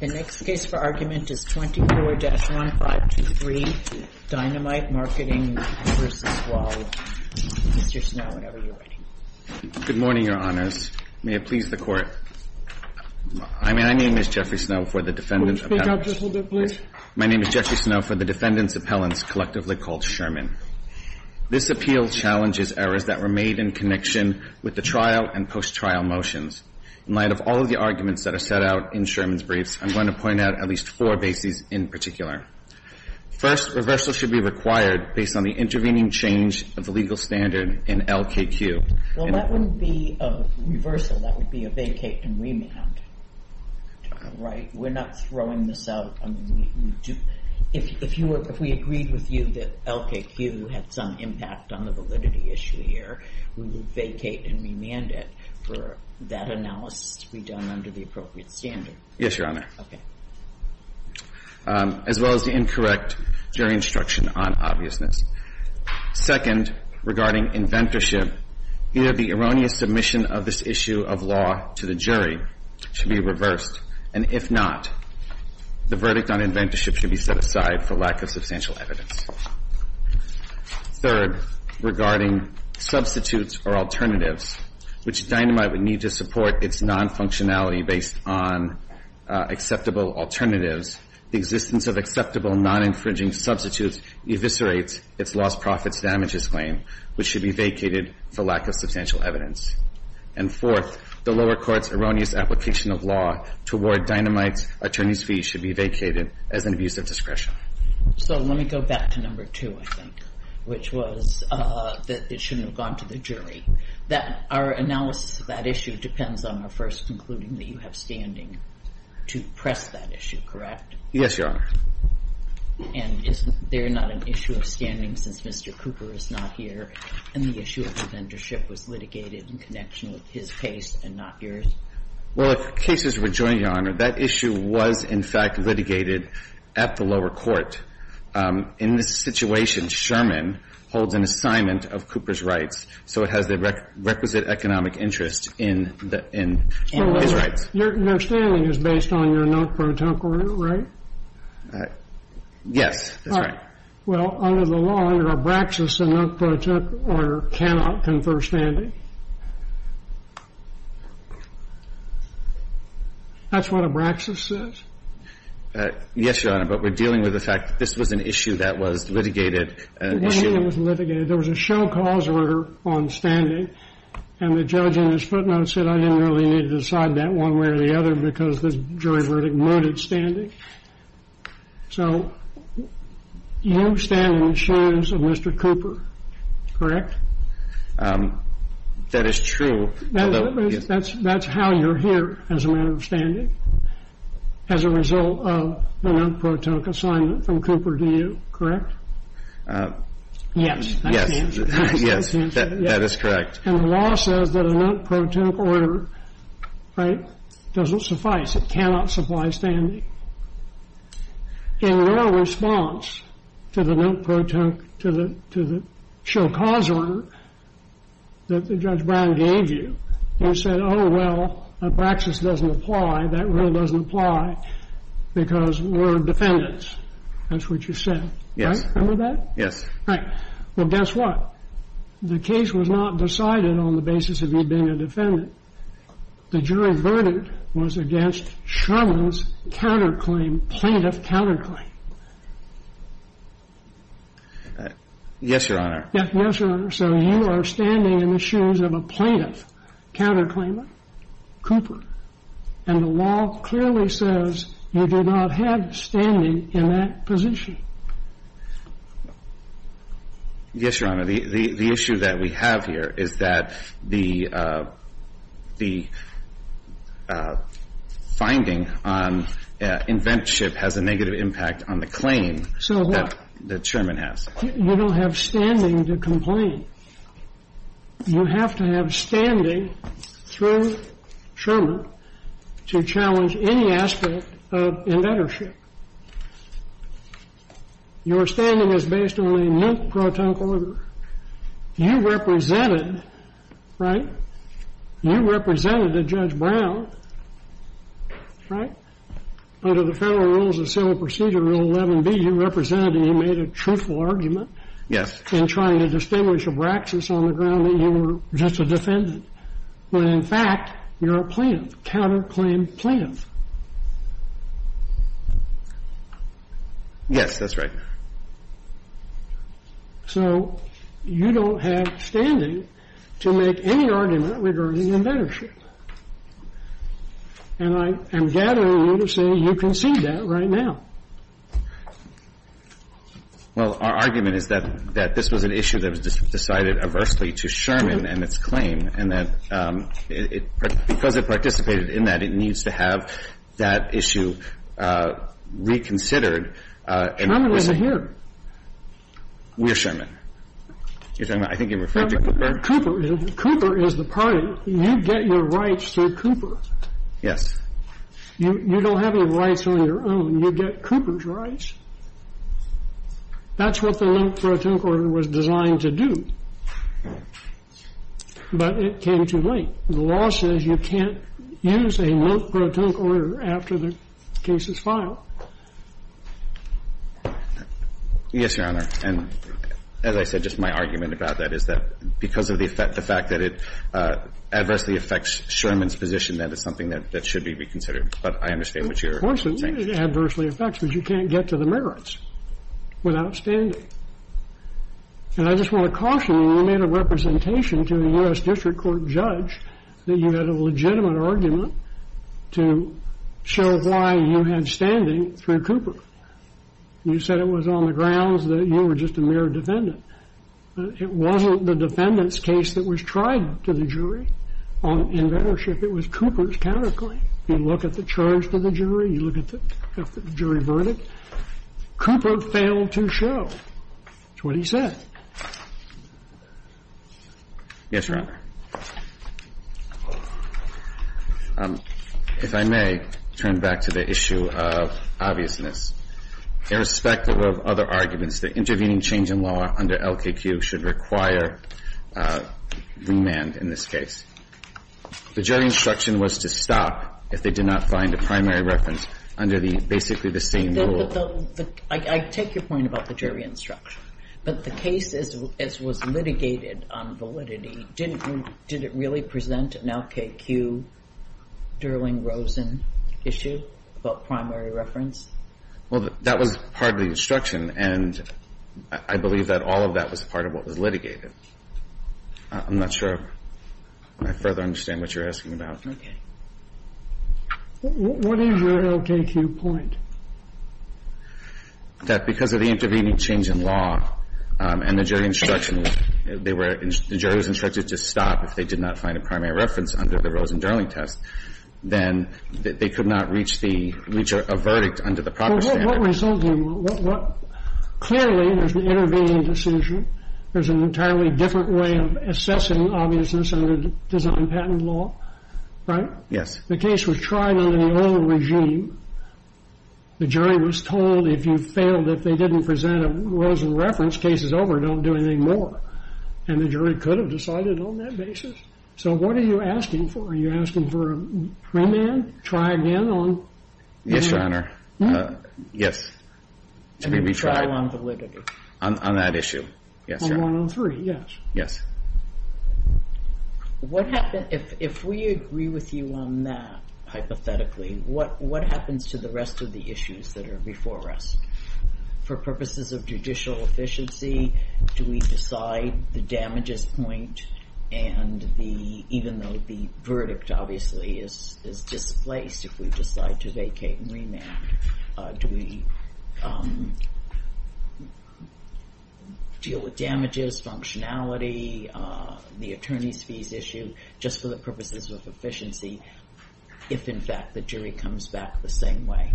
The next case for argument is 24-1523, Dynamite Marketing, Inc. v. WowLine. Mr. Snow, whenever you're ready. Good morning, Your Honors. May it please the Court, I mean, my name is Jeffrey Snow for the Defendant's Will you speak up just a little bit, please? My name is Jeffrey Snow for the Defendant's Appellants, collectively called Sherman. This appeal challenges errors that were made in connection with the trial and post-trial motions. In light of all of the arguments that are set out in Sherman's briefs, I'm going to point out at least four bases in particular. First, reversal should be required based on the intervening change of the legal standard in LKQ. Well, that wouldn't be a reversal, that would be a vacate and remand, right? We're not throwing this out, I mean, we do, if we agreed with you that LKQ had some impact on the validity issue here, we would vacate and remand it for that analysis to be done under the appropriate standard. Yes, Your Honor. Okay. As well as the incorrect jury instruction on obviousness. Second, regarding inventorship, either the erroneous submission of this issue of law to the jury should be reversed, and if not, the verdict on inventorship should be set aside for lack of substantial evidence. Third, regarding substitutes or alternatives, which Dynamite would need to support its non-functionality based on acceptable alternatives, the existence of acceptable non-infringing substitutes eviscerates its lost profits damages claim, which should be vacated for lack of substantial evidence. And fourth, the lower court's erroneous application of law toward Dynamite's attorney's fee should be vacated as an abuse of discretion. So, let me go back to number two, I think, which was that it shouldn't have gone to the jury. That our analysis of that issue depends on our first concluding that you have standing to press that issue, correct? Yes, Your Honor. And is there not an issue of standing since Mr. Cooper is not here, and the issue of inventorship was litigated in connection with his case and not yours? Well, if cases were joined, Your Honor, that issue was, in fact, litigated at the lower court. In this situation, Sherman holds an assignment of Cooper's rights, so it has nothing to do with the requisite economic interest in his rights. Your understanding is based on your Noak-Protunk order, right? Yes, that's right. Well, under the law, under Abraxas, a Noak-Protunk order cannot confer standing. That's what Abraxas says? Yes, Your Honor, but we're dealing with the fact that this was an issue that was litigated. There was a show cause order on standing, and the judge in his footnotes said, I didn't really need to decide that one way or the other because the jury verdict mooted standing. So you stand in the shoes of Mr. Cooper, correct? That is true. That's how you're here as a matter of standing, as a result of the Noak-Protunk assignment from Cooper to you, correct? Yes, that's the answer. Yes, that is correct. And the law says that a Noak-Protunk order, right, doesn't suffice. It cannot supply standing. In your response to the Noak-Protunk, to the show cause order that Judge Brown gave you, you said, oh, well, Abraxas doesn't apply. That really doesn't apply because we're defendants. That's what you said, right? Yes. Right. Well, guess what? The case was not decided on the basis of you being a defendant. The jury verdict was against Sherman's counterclaim, plaintiff counterclaim. Yes, Your Honor. Yes, Your Honor. So you are standing in the shoes of a plaintiff counterclaimant, Cooper. And the law clearly says you do not have standing in that position. Yes, Your Honor. The issue that we have here is that the finding on inventorship has a negative impact on the claim that Sherman has. You don't have standing to complain. You have to have standing through Sherman to challenge any aspect of inventorship. Your standing is based on a Noak-Protunk order. You represented, right, you represented a Judge Brown, right, under the Federal Rules of Civil Procedure, Rule 11B. You represented and you made a truthful argument. And trying to distinguish a Braxis on the ground that you were just a defendant, when in fact, you're a plaintiff, counterclaim, plaintiff. Yes, that's right. So you don't have standing to make any argument regarding inventorship. And I am gathering you to say you can see that right now. Well, our argument is that this was an issue that was decided adversely to Sherman and its claim, and that because it participated in that, it needs to have that issue reconsidered. Sherman isn't here. We're Sherman. You're talking about, I think you're referring to Cooper. Cooper is the party. You get your rights through Cooper. Yes. You don't have any rights on your own. You get Cooper's rights. That's what the Lent-Protonc Order was designed to do. But it came too late. The law says you can't use a Lent-Protonc Order after the case is filed. Yes, Your Honor. And as I said, just my argument about that is that because of the fact that it adversely affects Sherman's position, that is something that should be reconsidered. But I understand what you're saying. It adversely affects, but you can't get to the merits without standing. And I just want to caution you. You made a representation to a U.S. District Court judge that you had a legitimate argument to show why you had standing through Cooper. You said it was on the grounds that you were just a mere defendant. It wasn't the defendant's case that was tried to the jury. In bettership, it was Cooper's counterclaim. You look at the charge to the jury. You look at the jury verdict. Cooper failed to show. That's what he said. Yes, Your Honor. If I may, turn back to the issue of obviousness. Irrespective of other arguments, the intervening change in law under LKQ should require remand in this case. The jury instruction was to stop if they did not find a primary reference under the basically the same rule. I take your point about the jury instruction. But the case, as was litigated on validity, didn't really present an LKQ, Durling-Rosen issue about primary reference? Well, that was part of the instruction. And I believe that all of that was part of what was litigated. I'm not sure I further understand what you're asking about. What is your LKQ point? That because of the intervening change in law and the jury instruction, the jury was instructed to stop if they did not find a primary reference under the Rosen-Durling test. Then they could not reach the verdict under the proper standard. Clearly, there's an intervening decision. There's an entirely different way of assessing obviousness under design patent law. Right? The case was tried under the old regime. The jury was told if you failed, if they didn't present a Rosen reference, case is over. Don't do anything more. And the jury could have decided on that basis. So what are you asking for? Are you asking for remand? Try again on remand? Yes, Your Honor. Yes, to be retried. And trial on validity. On that issue. Yes, Your Honor. On 103, yes. Yes. What happens if we agree with you on that, hypothetically, what happens to the rest of the issues that are before us? For purposes of judicial efficiency, do we decide the damages point? And even though the verdict, obviously, is displaced, if we decide to vacate and remand, do we deal with damages, functionality, the attorney's fees issue, just for the purposes of efficiency, if, in fact, the jury comes back the same way?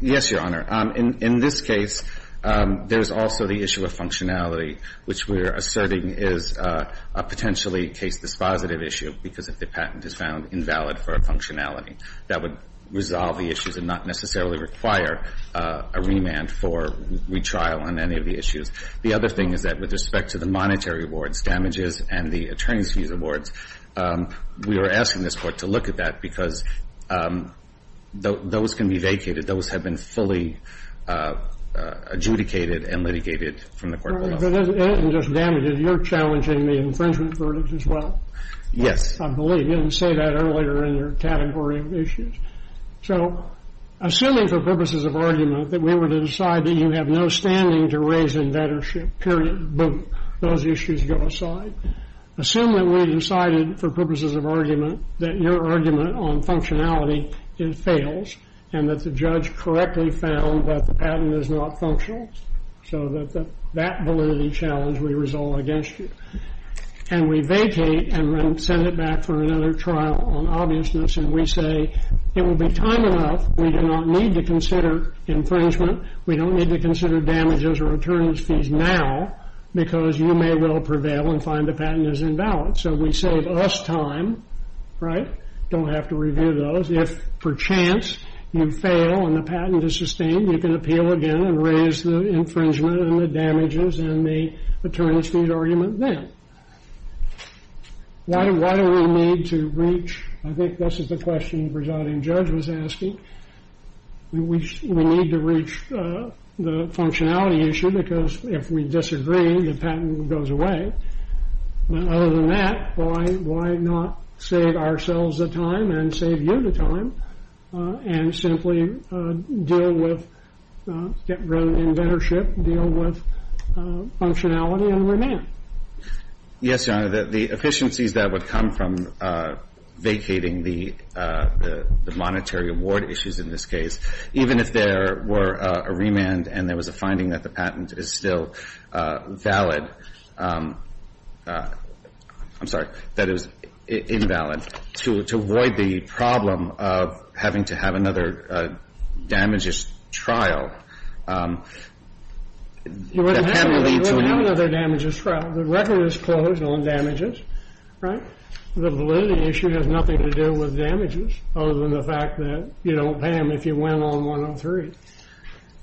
Yes, Your Honor. In this case, there's also the issue of functionality, which we're asserting is a potentially case dispositive issue because if the patent is found invalid for a functionality, that would resolve the issues and not necessarily require a remand for retrial on any of the issues. The other thing is that with respect to the monetary awards, damages, and the attorney's fees awards, we are asking this Court to look at that because those can be vacated. Those have been fully adjudicated and litigated from the court of law. And just damages, you're challenging the infringement verdict as well? Yes. I believe you didn't say that earlier in your category of issues. So assuming for purposes of argument that we were to decide that you have no standing to raise in vettership, period, boom, those issues go aside. Assuming we decided for purposes of argument that your argument on functionality fails and that the judge correctly found that the patent is not functional so that that validity challenge would resolve against you. And we vacate and send it back for another trial on obviousness. And we say it will be time enough. We do not need to consider infringement. We don't need to consider damages or attorney's fees now because you may well prevail and find the patent is invalid. So we save us time, right? Don't have to review those. If, perchance, you fail and the patent is sustained, you can appeal again and raise the infringement and the damages and the attorney's fees argument then. Why do we need to reach? I think this is the question the presiding judge was asking. We need to reach the functionality issue because if we disagree, the patent goes away. Other than that, why not save ourselves the time and save you the time and simply deal with, rather than inventorship, deal with functionality and remand? Yes, Your Honor. The efficiencies that would come from vacating the monetary award issues in this case, even if there were a remand and there was a finding that the patent is still valid, I'm sorry, that it was invalid, to avoid the problem of having to have another damages trial. That can lead to another damages trial. The record is closed on damages, right? The validity issue has nothing to do with damages, other than the fact that you don't pay them if you went on 103.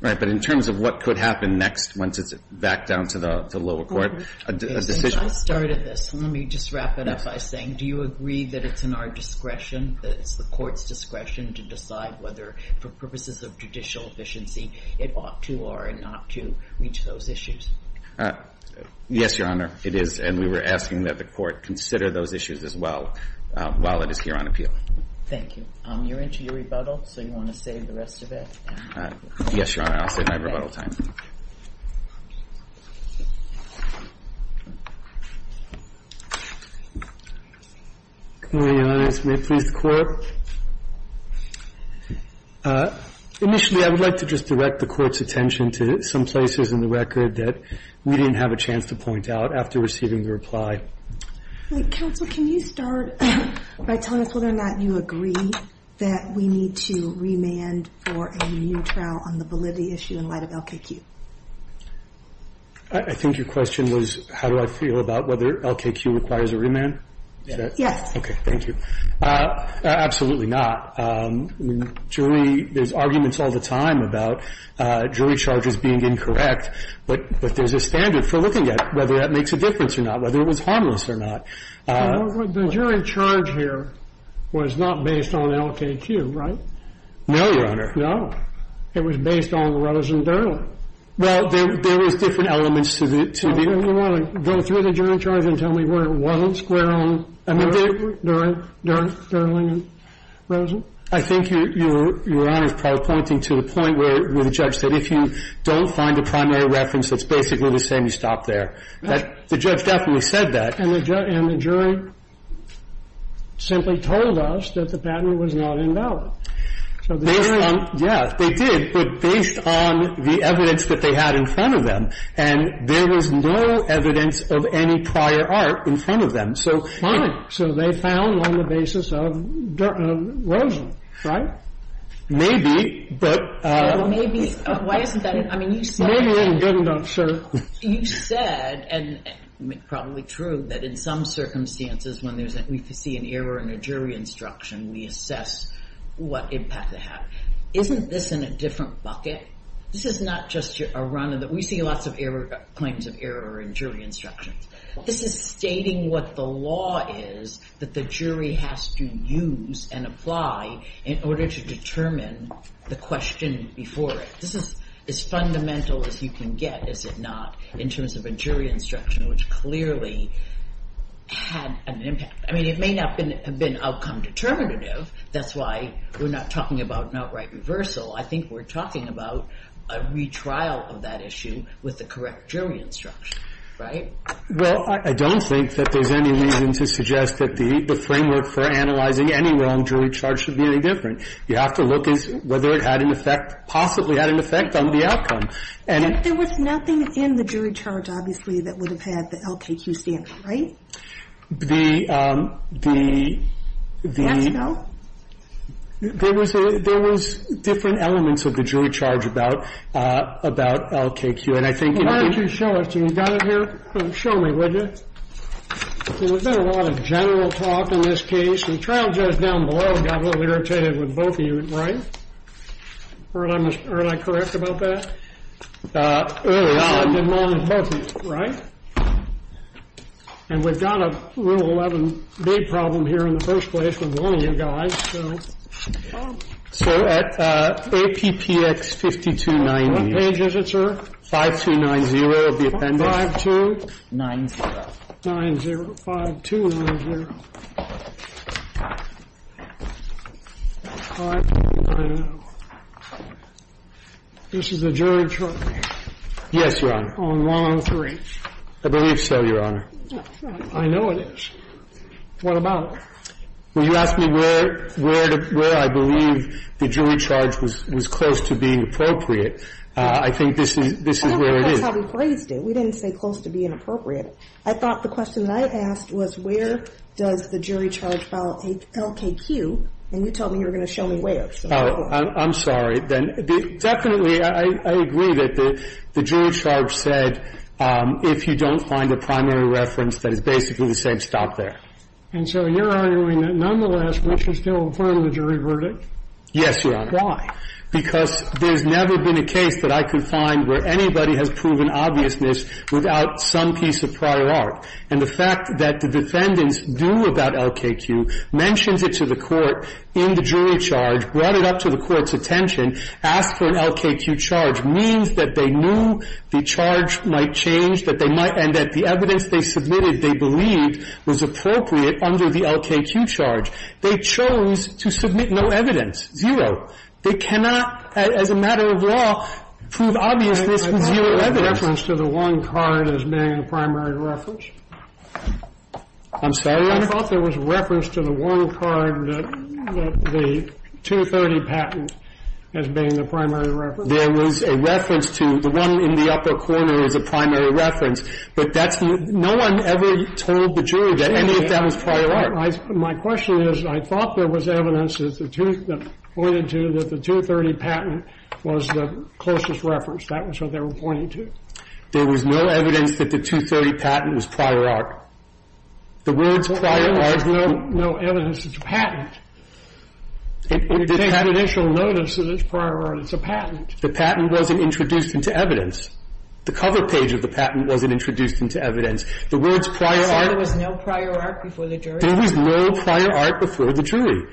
Right. But in terms of what could happen next once it's back down to the lower court, a decision I started this. Let me just wrap it up by saying, do you agree that it's in our discretion, that it's the court's discretion to decide whether, for purposes of judicial efficiency, it ought to or not to reach those issues? Yes, Your Honor, it is. And we were asking that the court consider those issues as well while it is here on appeal. Thank you. You're into your rebuttal, so you want to save the rest of it? Yes, Your Honor. I'll save my rebuttal time. Come on in, Your Honor. May it please the Court. Initially, I would like to just direct the Court's attention to some places in the record that we didn't have a chance to point out after receiving the reply. Counsel, can you start by telling us whether or not you agree that we need to remand for a new trial on the validity issue in light of LKQ? I think your question was, how do I feel about whether LKQ requires a remand? Yes. Okay, thank you. Absolutely not. There's arguments all the time about jury charges being incorrect, but there's a standard for looking at whether that makes a difference or not, whether it was harmless or not. The jury charge here was not based on LKQ, right? No, Your Honor. It was based on Rosen-Durling. Well, there was different elements to it. You want to go through the jury charge and tell me where it wasn't square on Durling and Rosen? I think Your Honor is probably pointing to the point where the judge said, if you don't find a primary reference that's basically the same, you stop there. The judge definitely said that. And the jury simply told us that the patent was not invalid. Yeah, they did, but based on the evidence that they had in front of them. And there was no evidence of any prior art in front of them. So fine. So they found one on the basis of Rosen, right? Maybe, but — Well, maybe. Why isn't that it? I mean, you said — Maybe it wasn't good enough, sir. You said, and it's probably true, that in some circumstances when we see an error in a jury instruction, we assess what impact it had. Isn't this in a different bucket? This is not just a run of the — we see lots of claims of error in jury instructions. This is stating what the law is that the jury has to use and apply in order to determine the question before it. This is as fundamental as you can get, is it not, in terms of a jury instruction, which clearly had an impact. I mean, it may not have been outcome determinative. That's why we're not talking about an outright reversal. I think we're talking about a retrial of that issue with the correct jury instruction. Right? Well, I don't think that there's any reason to suggest that the framework for analyzing any wrong jury charge should be any different. You have to look as whether it had an effect, possibly had an effect on the outcome. There was nothing in the jury charge, obviously, that would have had the LKQ standard, right? There was different elements of the jury charge about LKQ, and I think — Why don't you show us? You got it here? Show me, would you? There's been a lot of general talk in this case. The trial judge down below got a little irritated with both of you, right? Aren't I correct about that? Early on. Right? And we've got a Rule 11 big problem here in the first place with one of you guys. So at APPX 5290. What page is it, sir? 5290 of the appendix. 5290. 5290. This is the jury charge. Yes, Your Honor. On one of the three. I believe so, Your Honor. I know it. What about it? Well, you asked me where I believe the jury charge was close to being appropriate. I think this is where it is. That's how we phrased it. We didn't say close to being appropriate. I thought the question that I asked was where does the jury charge follow LKQ, and you told me you were going to show me where. I'm sorry. Well, if you're going to show me where, then definitely I agree that the jury charge said if you don't find a primary reference, that is basically the same stop there. And so you're arguing that, nonetheless, we should still affirm the jury verdict? Yes, Your Honor. Why? Because there's never been a case that I can find where anybody has proven obviousness without some piece of prior art. And the fact that the defendants do about LKQ, mentions it to the court in the jury charge, brought it up to the court's attention, asked for an LKQ charge, means that they knew the charge might change, and that the evidence they submitted they believed was appropriate under the LKQ charge. They chose to submit no evidence, zero. They cannot, as a matter of law, prove obviousness with zero evidence. I thought there was reference to the one card as being a primary reference. I'm sorry, Your Honor? I thought there was reference to the one card that the 230 patent as being the primary reference. There was a reference to the one in the upper corner as a primary reference, but no one ever told the jury that any of that was prior art. My question is, I thought there was evidence that pointed to that the 230 patent was the closest reference. That was what they were pointing to. There was no evidence that the 230 patent was prior art. The words prior art, there was no evidence that it was a patent. They had initial notice that it was prior art. It's a patent. The patent wasn't introduced into evidence. The cover page of the patent wasn't introduced into evidence. The words prior art. So there was no prior art before the jury? There was no prior art before the jury.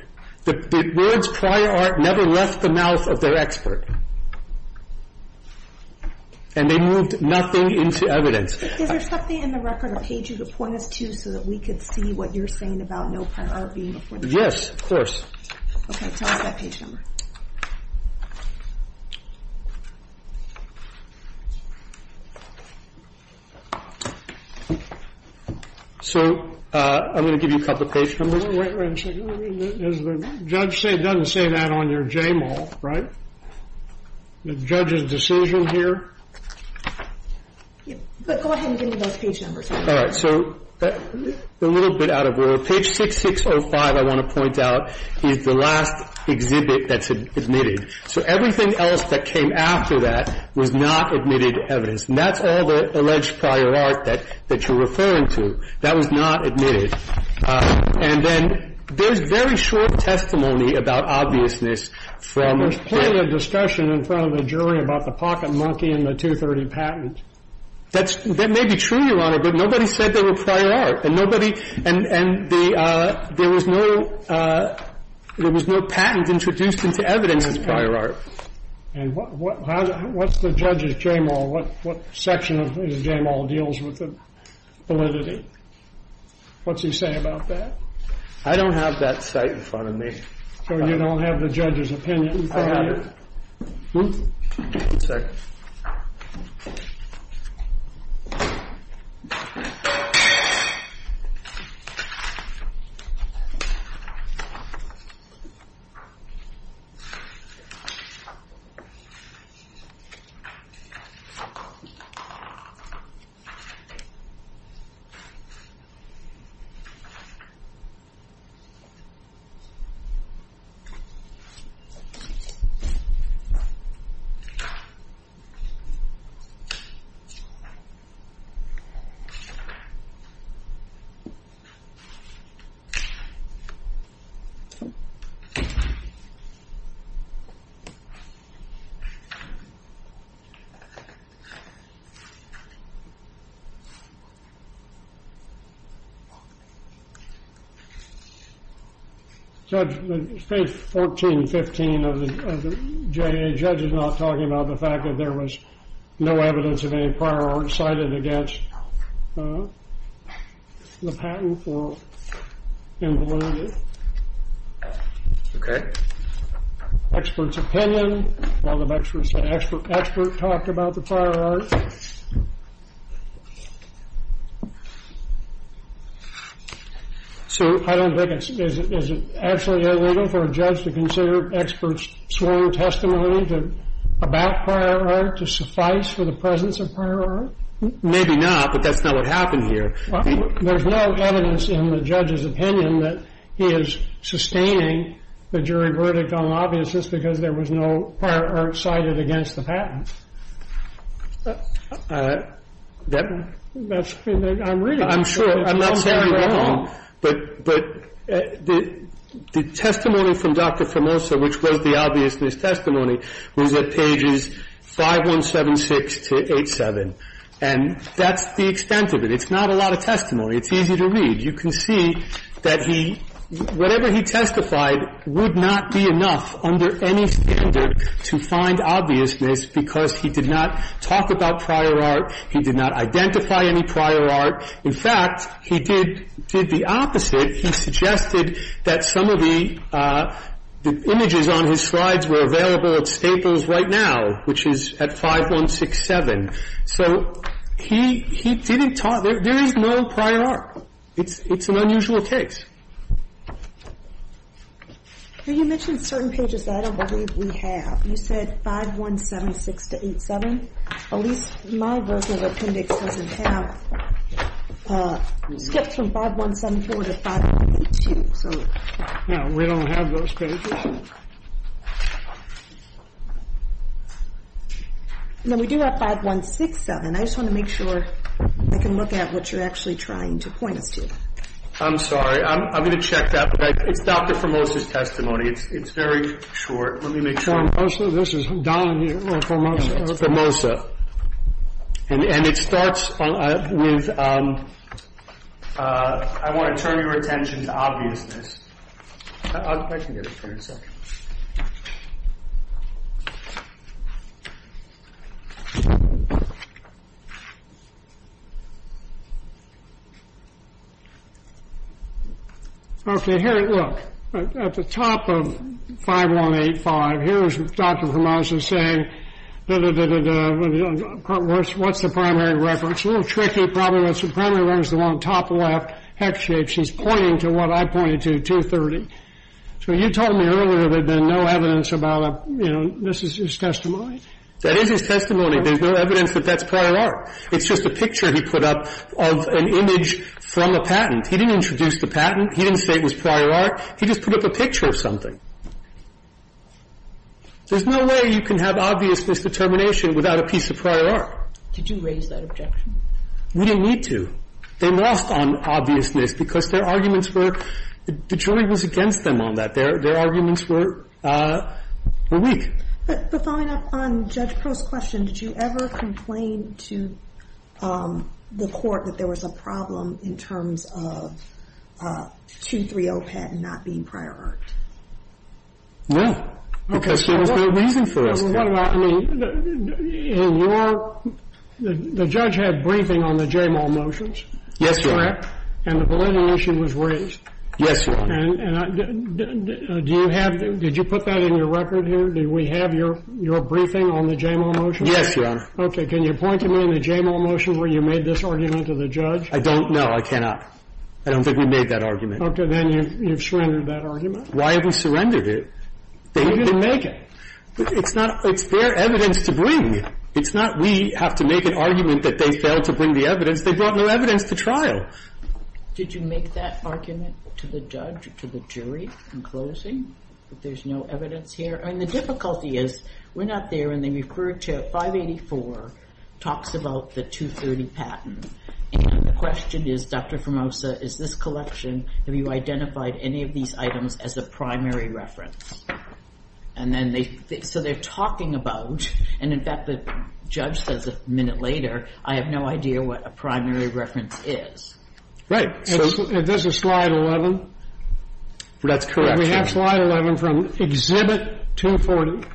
The words prior art never left the mouth of their expert. And they moved nothing into evidence. Is there something in the record, a page you could point us to, so that we could see what you're saying about no prior art being before the jury? Yes, of course. Okay, tell us that page number. So I'm going to give you a couple of page numbers. Wait a second. The judge doesn't say that on your J-mall, right? The judge's decision here? Go ahead and give me those page numbers. All right. So a little bit out of order. Page 6605, I want to point out, is the last exhibit that's admitted. So everything else that came after that was not admitted to evidence. And that's all the alleged prior art that you're referring to. That was not admitted. And then there's very short testimony about obviousness. And there's plenty of discussion in front of the jury about the pocket monkey and the 230 patent. That may be true, Your Honor, but nobody said they were prior art. And there was no patent introduced into evidence as prior art. And what's the judge's J-mall? What section of his J-mall deals with validity? What's he say about that? I don't have that site in front of me. So you don't have the judge's opinion? I have it. Hmm? Second. All right. Judge, page 1415 of the J-A, judge is not talking about the fact that there was no evidence of any prior art cited against the patent for invalidity. Okay. Expert's opinion, all the experts said expert talked about the prior art. So I don't think it's, is it actually illegal for a judge to consider expert's sworn testimony about prior art to suffice for the presence of prior art? Maybe not, but that's not what happened here. There's no evidence in the judge's opinion that he is sustaining the jury verdict on an obviousness because there was no prior art cited against the patent. That's what I'm reading. I'm sure. I'm not saying you're wrong. But the testimony from Dr. Formosa, which was the obviousness testimony, was at pages 5176 to 8-7. And that's the extent of it. It's not a lot of testimony. It's easy to read. You can see that he, whatever he testified would not be enough under any standard to find obviousness because he did not talk about prior art. He did not identify any prior art. In fact, he did the opposite. He suggested that some of the images on his slides were available at Staples right now, which is at 5167. So he didn't talk. There is no prior art. It's an unusual case. You mentioned certain pages that I don't believe we have. You said 5176 to 8-7. At least my version of appendix doesn't have skips from 5174 to 5182. No, we don't have those pages. No, we do have 5167. I just want to make sure I can look at what you're actually trying to point us to. I'm sorry. I'm going to check that. But it's Dr. Formosa's testimony. It's very short. Let me make sure. This is down here. Formosa. And it starts with, I want to turn your attention to obviousness. I can get it here in a second. Okay, here, look. At the top of 5185, here is Dr. Formosa saying, da-da-da-da-da, what's the primary reference? A little tricky, probably. The primary reference is the one on the top left, hex shapes. It's pointing to what I pointed to, 230. So you told me earlier there had been no evidence about a, you know, this is his testimony. That is his testimony. There's no evidence that that's prior art. It's just a picture he put up of an image from a patent. He didn't introduce the patent. He didn't say it was prior art. He just put up a picture of something. There's no way you can have obviousness determination without a piece of prior art. Did you raise that objection? We didn't need to. They lost on obviousness because their arguments were the jury was against them on that. Their arguments were weak. But following up on Judge Crow's question, did you ever complain to the Court that there was a problem in terms of 230 patent not being prior art? No, because there was no reason for us to. Well, what about, I mean, in your, the judge had briefing on the JAMAL motions. Yes, Your Honor. Correct? And the validity issue was raised. Yes, Your Honor. And do you have, did you put that in your record here? Did we have your briefing on the JAMAL motions? Yes, Your Honor. Okay. Can you point to me in the JAMAL motions where you made this argument to the judge? I don't know. I cannot. I don't think we made that argument. Okay. Then you've surrendered that argument. Why have we surrendered it? You didn't make it. It's not, it's their evidence to bring. It's not we have to make an argument that they failed to bring the evidence. They brought no evidence to trial. Did you make that argument to the judge, to the jury, in closing, that there's no evidence here? I mean, the difficulty is we're not there, and they referred to 584 talks about the 230 patent. And the question is, Dr. Formosa, is this collection, have you identified any of these items as a primary reference? And then they, so they're talking about, and in fact, the judge says a minute later, I have no idea what a primary reference is. If this is slide 11. That's correct. We have slide 11 from exhibit 240.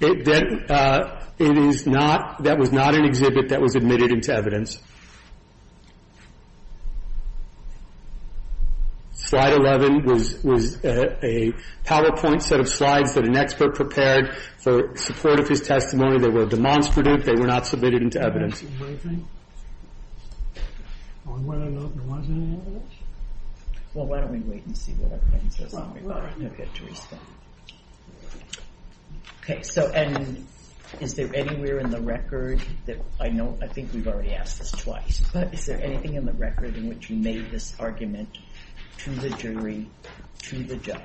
It is not, that was not an exhibit that was admitted into evidence. Slide 11 was, was a PowerPoint set of slides that an expert prepared for support of his testimony. They were demonstrative. They were not submitted into evidence. On whether there was any evidence? Well, why don't we wait and see what our client says. Okay, Theresa. Okay. So, and is there anywhere in the record that I know, I think we've already asked this question. Yes, twice. But is there anything in the record in which you made this argument to the jury, to the judge?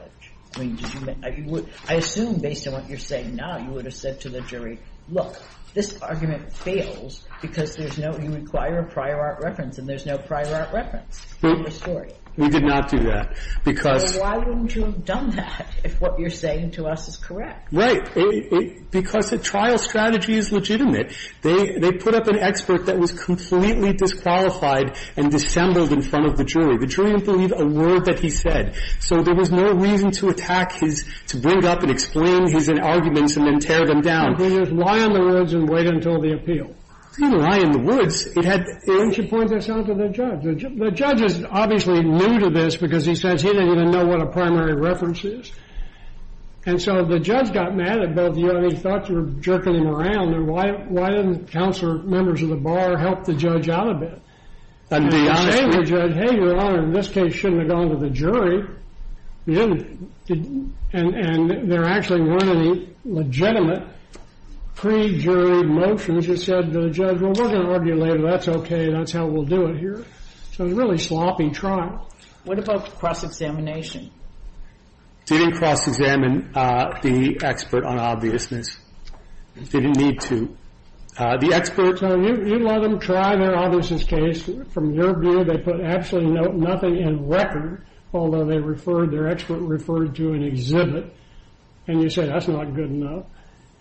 I mean, did you make, I would, I assume based on what you're saying now, you would have said to the jury, look, this argument fails because there's no, you require a prior art reference, and there's no prior art reference in the story. We did not do that. Because. Why wouldn't you have done that if what you're saying to us is correct? Right. Because the trial strategy is legitimate. They put up an expert that was completely disqualified and dissembled in front of the jury. The jury didn't believe a word that he said. So there was no reason to attack his, to bring up and explain his arguments and then tear them down. You just lie in the woods and wait until the appeal. I didn't lie in the woods. It had. Why don't you point this out to the judge? The judge is obviously new to this because he says he didn't even know what a primary reference is. And so the judge got mad at both of you. And he thought you were jerking him around. And why didn't council members of the bar help the judge out a bit? And be honest with you. And say to the judge, hey, your honor, in this case, you shouldn't have gone to the You didn't. And there actually weren't any legitimate pre-jury motions that said to the judge, well, we're going to argue later. That's OK. That's how we'll do it here. So it was a really sloppy trial. What about cross-examination? Didn't cross-examine the expert on obviousness. Didn't need to. The expert. You let them try their obviousest case. From your view, they put absolutely nothing in record. Although they referred, their expert referred to an exhibit. And you say that's not good enough.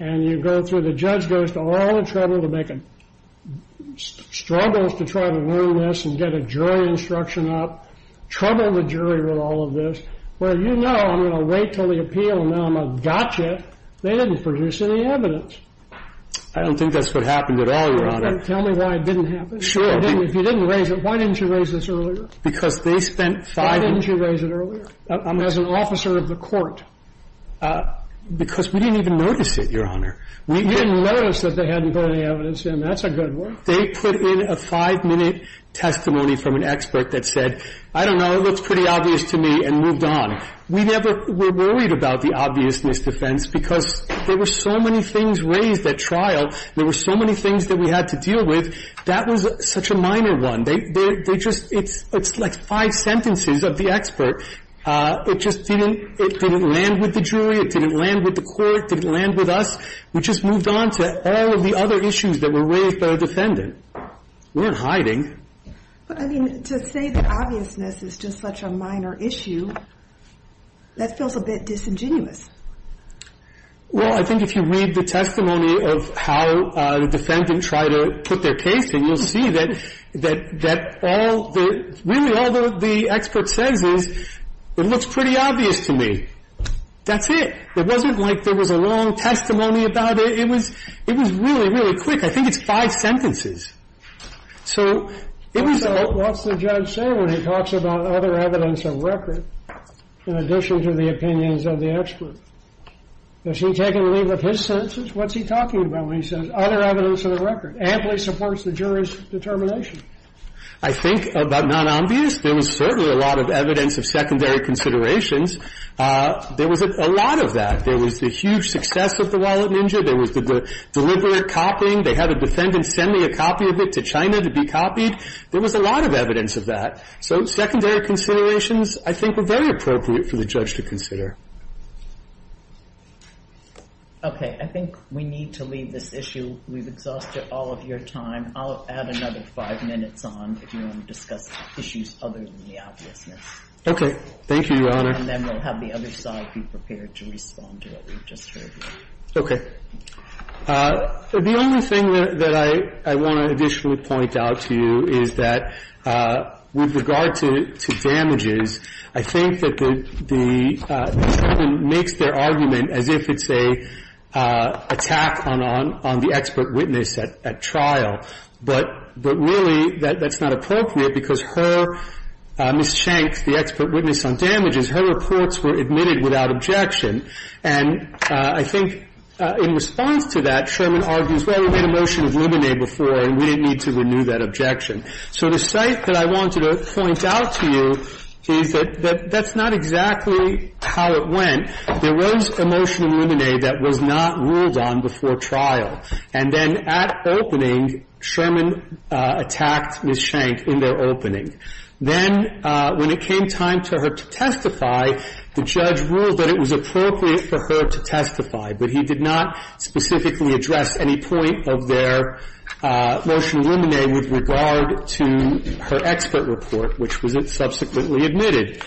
And you go through. The judge goes to all the trouble to make a, struggles to try to learn this and get a jury instruction up. Trouble the jury with all of this. Well, you know I'm going to wait until the appeal, and now I'm a gotcha. They didn't produce any evidence. I don't think that's what happened at all, your honor. Tell me why it didn't happen. Sure. If you didn't raise it, why didn't you raise this earlier? Because they spent five minutes. Why didn't you raise it earlier? As an officer of the court. Because we didn't even notice it, your honor. You didn't notice that they hadn't put any evidence in. That's a good one. They put in a five-minute testimony from an expert that said, I don't know, it looks pretty obvious to me, and moved on. We never were worried about the obviousness defense because there were so many things raised at trial. There were so many things that we had to deal with. That was such a minor one. They just, it's like five sentences of the expert. It just didn't, it didn't land with the jury. It didn't land with the court. It didn't land with us. We just moved on to all of the other issues that were raised by the defendant. We weren't hiding. But, I mean, to say that obviousness is just such a minor issue, that feels a bit disingenuous. Well, I think if you read the testimony of how the defendant tried to put their case in, you'll see that all the, really all the expert says is, it looks pretty obvious to me. That's it. It wasn't like there was a long testimony about it. It was, it was really, really quick. I think it's five sentences. So, it was a lot. So what's the judge say when he talks about other evidence of record in addition to the opinions of the expert? Has he taken leave of his sentences? What's he talking about when he says other evidence of the record? Amply supports the jury's determination. I think about non-obvious, there was certainly a lot of evidence of secondary considerations. There was a lot of that. There was the huge success of the Wallet Ninja. There was the deliberate copying. They had a defendant send me a copy of it to China to be copied. There was a lot of evidence of that. So secondary considerations, I think, were very appropriate for the judge to consider. Okay. I think we need to leave this issue. We've exhausted all of your time. I'll add another five minutes on if you want to discuss issues other than the obviousness. Okay. Thank you, Your Honor. And then we'll have the other side be prepared to respond to what we've just heard. Okay. The only thing that I want to additionally point out to you is that with regard to damages, I think that the defendant makes their argument as if it's an attack on the expert witness at trial. But really that's not appropriate because her, Ms. Schenk, the expert witness on damages, her reports were admitted without objection. And I think in response to that, Sherman argues, well, we made a motion of luminae before and we didn't need to renew that objection. So the site that I wanted to point out to you is that that's not exactly how it went. There was a motion of luminae that was not ruled on before trial. And then at opening, Sherman attacked Ms. Schenk in their opening. Then when it came time for her to testify, the judge ruled that it was appropriate for her to testify. But he did not specifically address any point of their motion of luminae with regard to her expert report, which was subsequently admitted.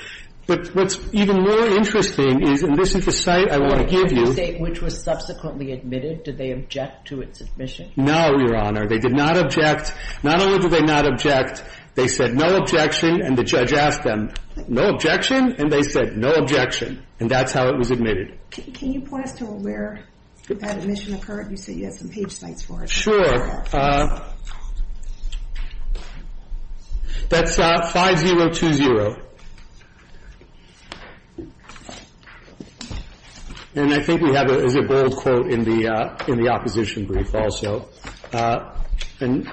But what's even more interesting is, and this is the site I want to give you. The site which was subsequently admitted, did they object to its admission? No, Your Honor. They did not object. Not only did they not object, they said, no objection. And the judge asked them, no objection? And they said, no objection. And that's how it was admitted. Can you point us to where that admission occurred? You said you had some page sites for it. Sure. That's 5020. And I think we have it as a bold quote in the opposition brief also. And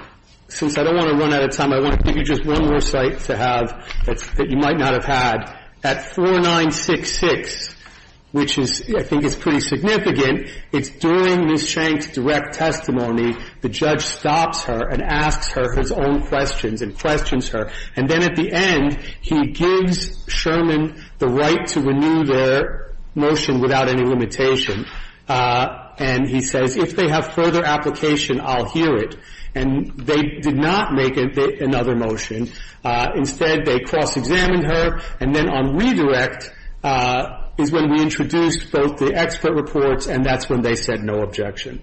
since I don't want to run out of time, I want to give you just one more site to have that you might not have had. At 4966, which I think is pretty significant, it's during Ms. Schenk's direct testimony, the judge stops her and asks her his own questions and questions her. And then at the end, he gives Sherman the right to renew their motion without any limitation. And he says, if they have further application, I'll hear it. And they did not make another motion. Instead, they cross-examined her. And then on redirect is when we introduced both the expert reports, and that's when they said no objection.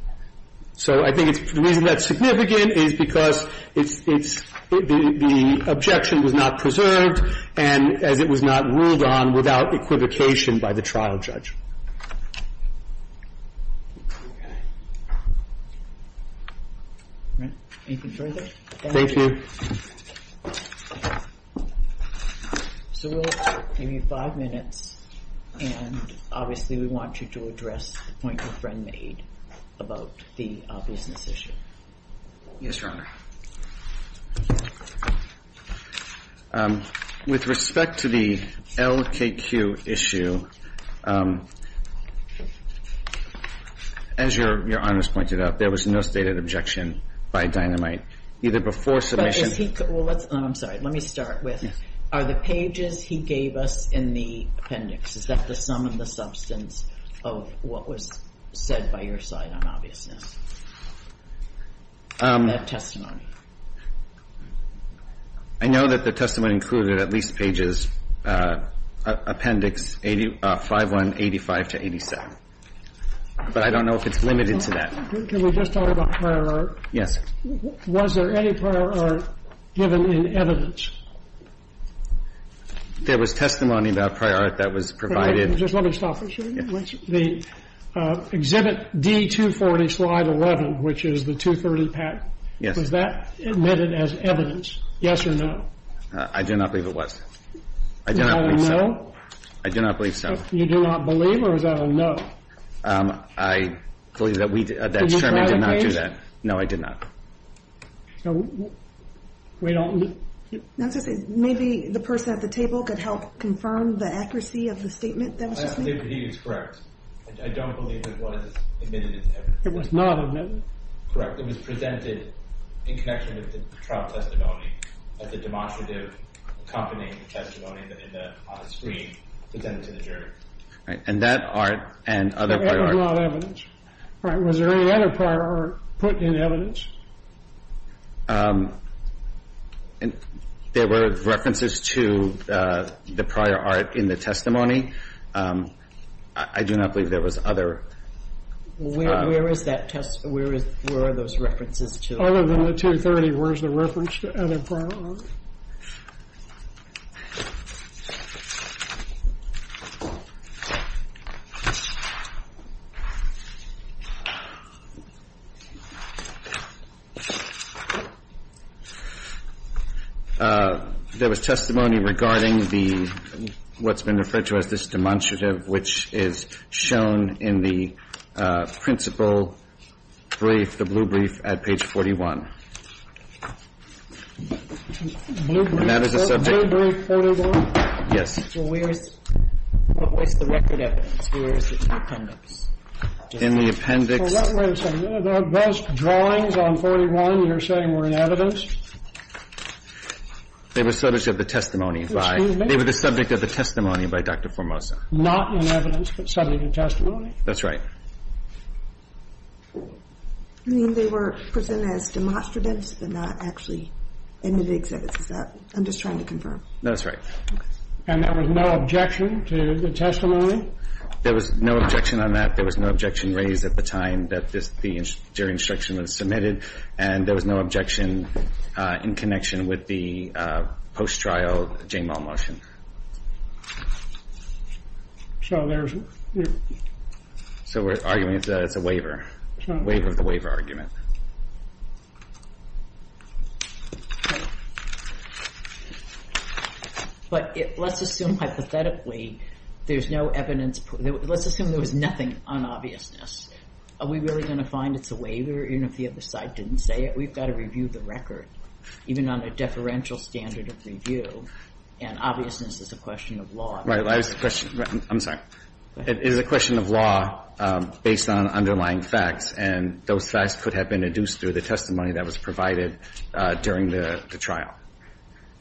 So I think the reason that's significant is because the objection was not preserved and as it was not ruled on without equivocation by the trial judge. All right. Anything further? Thank you. So we'll give you five minutes. And obviously, we want you to address the point your friend made about the obviousness issue. Yes, Your Honor. With respect to the LKQ issue, as Your Honors pointed out, there was no stated objection by Dynamite, either before submission or after submission. I'm sorry. Let me start with, are the pages he gave us in the appendix, is that the sum of the substance of what was said by your side on obviousness? That testimony. I know that the testimony included at least pages, appendix 5185 to 87. But I don't know if it's limited to that. Can we just talk about prior art? Yes. Was there any prior art given in evidence? There was testimony about prior art that was provided. Just let me stop for a second. The exhibit D240, slide 11, which is the 230 patent. Yes. Was that admitted as evidence? Yes or no? I do not believe it was. I do not believe so. Is that a no? I do not believe so. You do not believe or is that a no? I believe that we did not do that. No, I did not. So we don't need? Maybe the person at the table could help confirm the accuracy of the statement that was just made? I believe he is correct. I don't believe it was admitted as evidence. It was not admitted? Correct. It was presented in connection with the trial testimony as a demonstrative, accompanying testimony on the screen presented to the jury. And that art and other prior art. There was a lot of evidence. All right. Was there any other prior art put in evidence? There were references to the prior art in the testimony. I do not believe there was other. Where are those references to? Other than the 230, where is the reference to other prior art? There was testimony regarding the, what's been referred to as this demonstrative, which is shown in the principal brief, the blue brief at page 41. Blue brief, blue brief 41? Yes. Where is, what was the record evidence? Where is the appendix? In the appendix. Wait a second. Those drawings on 41 you're saying were in evidence? They were subject of the testimony by. They were the subject of the testimony by Dr. Formosa. Not in evidence, but subject of testimony? That's right. You mean they were presented as demonstratives, but not actually in the exhibits? Is that, I'm just trying to confirm. That's right. And there was no objection to the testimony? There was no objection on that. There was no objection raised at the time that the jury instruction was submitted. And there was no objection in connection with the post-trial J-Mal motion. So there's. So we're arguing it's a waiver, waiver of the waiver argument. But let's assume hypothetically there's no evidence. Let's assume there was nothing on obviousness. Are we really going to find it's a waiver, even if the other side didn't say it? We've got to review the record, even on a deferential standard of review. And obviousness is a question of law. Right. I'm sorry. It is a question of law based on underlying facts, and those facts could have been induced through the testimony that was provided during the trial.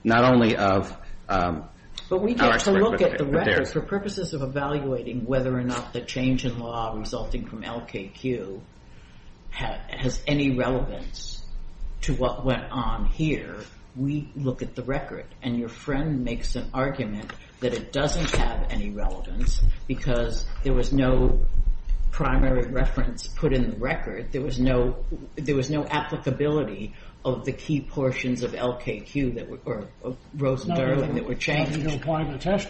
Not only of. But we get to look at the record for purposes of evaluating whether or not the change in law resulting from LKQ has any relevance to what went on here. We look at the record, and your friend makes an argument that it doesn't have any relevance because there was no primary reference put in the record. There was no applicability of the key portions of LKQ that were, or Rosen-Darling, that were changed.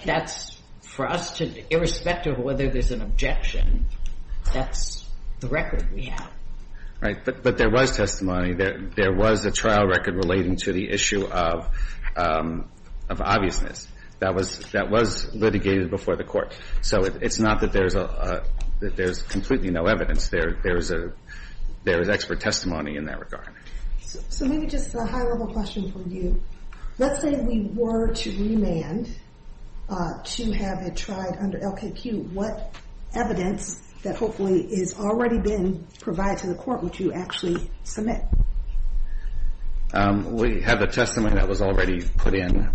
That's for us to, irrespective of whether there's an objection, that's the record we have. Right. But there was testimony. There was a trial record relating to the issue of obviousness. That was litigated before the Court. So it's not that there's completely no evidence. There is expert testimony in that regard. So maybe just a high level question for you. Let's say we were to remand to have it tried under LKQ. What evidence that hopefully has already been provided to the Court would you actually submit? We have a testimony that was already put in.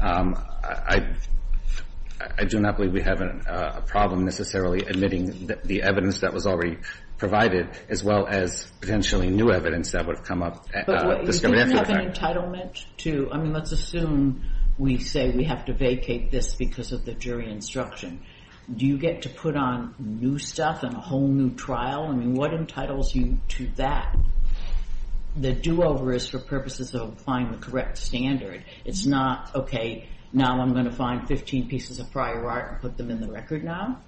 I do not believe we have a problem necessarily admitting the evidence that was already provided, as well as potentially new evidence that would have come up. But you didn't have an entitlement to, I mean, let's assume we say we have to vacate this because of the jury instruction. Do you get to put on new stuff and a whole new trial? I mean, what entitles you to that? The do-over is for purposes of applying the correct standard. It's not, okay, now I'm going to find 15 pieces of prior art and put them in the record now.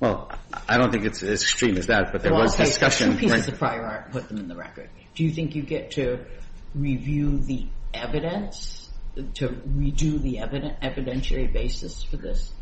Well, I don't think it's as extreme as that, but there was discussion. Well, I'll take 15 pieces of prior art and put them in the record. Do you think you get to review the evidence, to redo the evidentiary basis for this?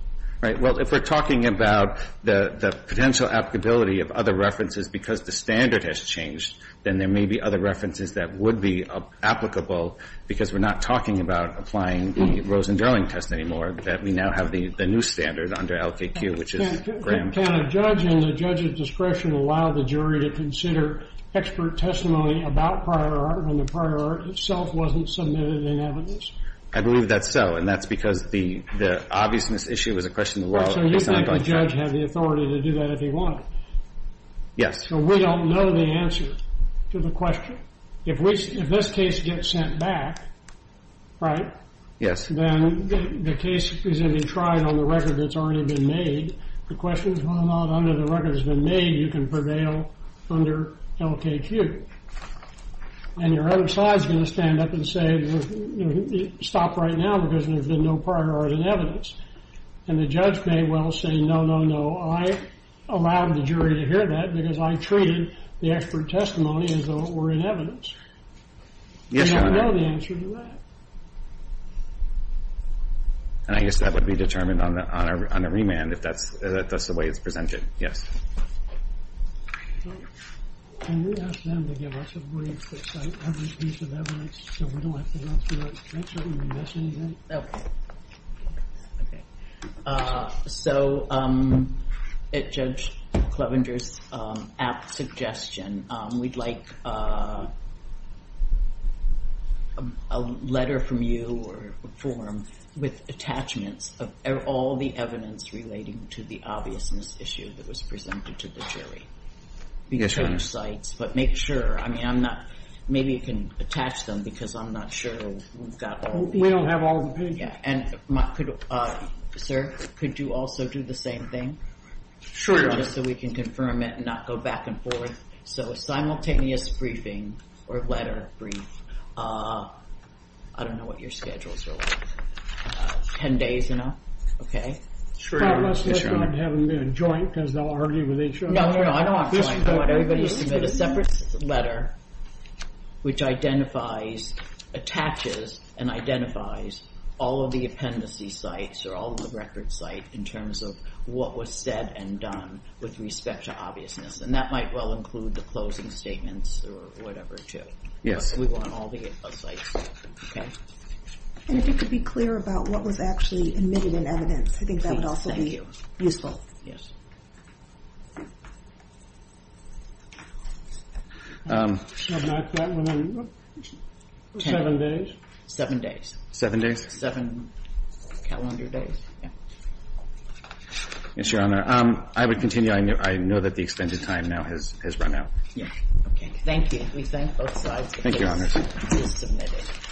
Right. Well, if we're talking about the potential applicability of other references because the standard has changed, then there may be other references that would be applicable because we're not talking about applying the Rosen-Darling test anymore, that we now have the new standard under LKQ, which is Graham. Can a judge and the judge's discretion allow the jury to consider expert testimony about prior art when the prior art itself wasn't submitted in evidence? I believe that's so, and that's because the obviousness issue is a question of the law. So you think the judge had the authority to do that if he wanted? Yes. So we don't know the answer to the question. If this case gets sent back, right? Yes. Then the case is going to be tried on the record that's already been made. The question is whether or not under the record that's been made you can prevail under LKQ. And your other side is going to stand up and say, stop right now because there's been no prior art in evidence. And the judge may well say, no, no, no, I allowed the jury to hear that because I treated the expert testimony as though it were in evidence. Yes, Your Honor. We don't know the answer to that. And I guess that would be determined on a remand if that's the way it's presented. Yes. Can you ask them to give us a brief that's like every piece of evidence so we don't have to go through it? Okay. So at Judge Clevenger's apt suggestion, we'd like a letter from you or a form with attachments of all the evidence relating to the obviousness issue that was presented to the jury. Yes, Your Honor. But make sure. Maybe you can attach them because I'm not sure. We don't have all the pages. Sir, could you also do the same thing? Sure, Your Honor. Just so we can confirm it and not go back and forth. So a simultaneous briefing or letter brief. I don't know what your schedules are like. Ten days, you know? Have them be a joint because they'll argue with each other. No, no, I don't want a joint. I want everybody to submit a separate letter which identifies, attaches, and identifies all of the appendices sites or all of the record sites in terms of what was said and done with respect to obviousness. And that might well include the closing statements or whatever, too. Yes. We want all the sites. Okay. And if you could be clear about what was actually admitted in evidence. I think that would also be useful. Seven days. Seven days? Seven calendar days. Yes, Your Honor. I would continue. I know that the extended time now has run out. Yes. Thank you. We thank both sides. Thank you, Your Honor. Please submit it.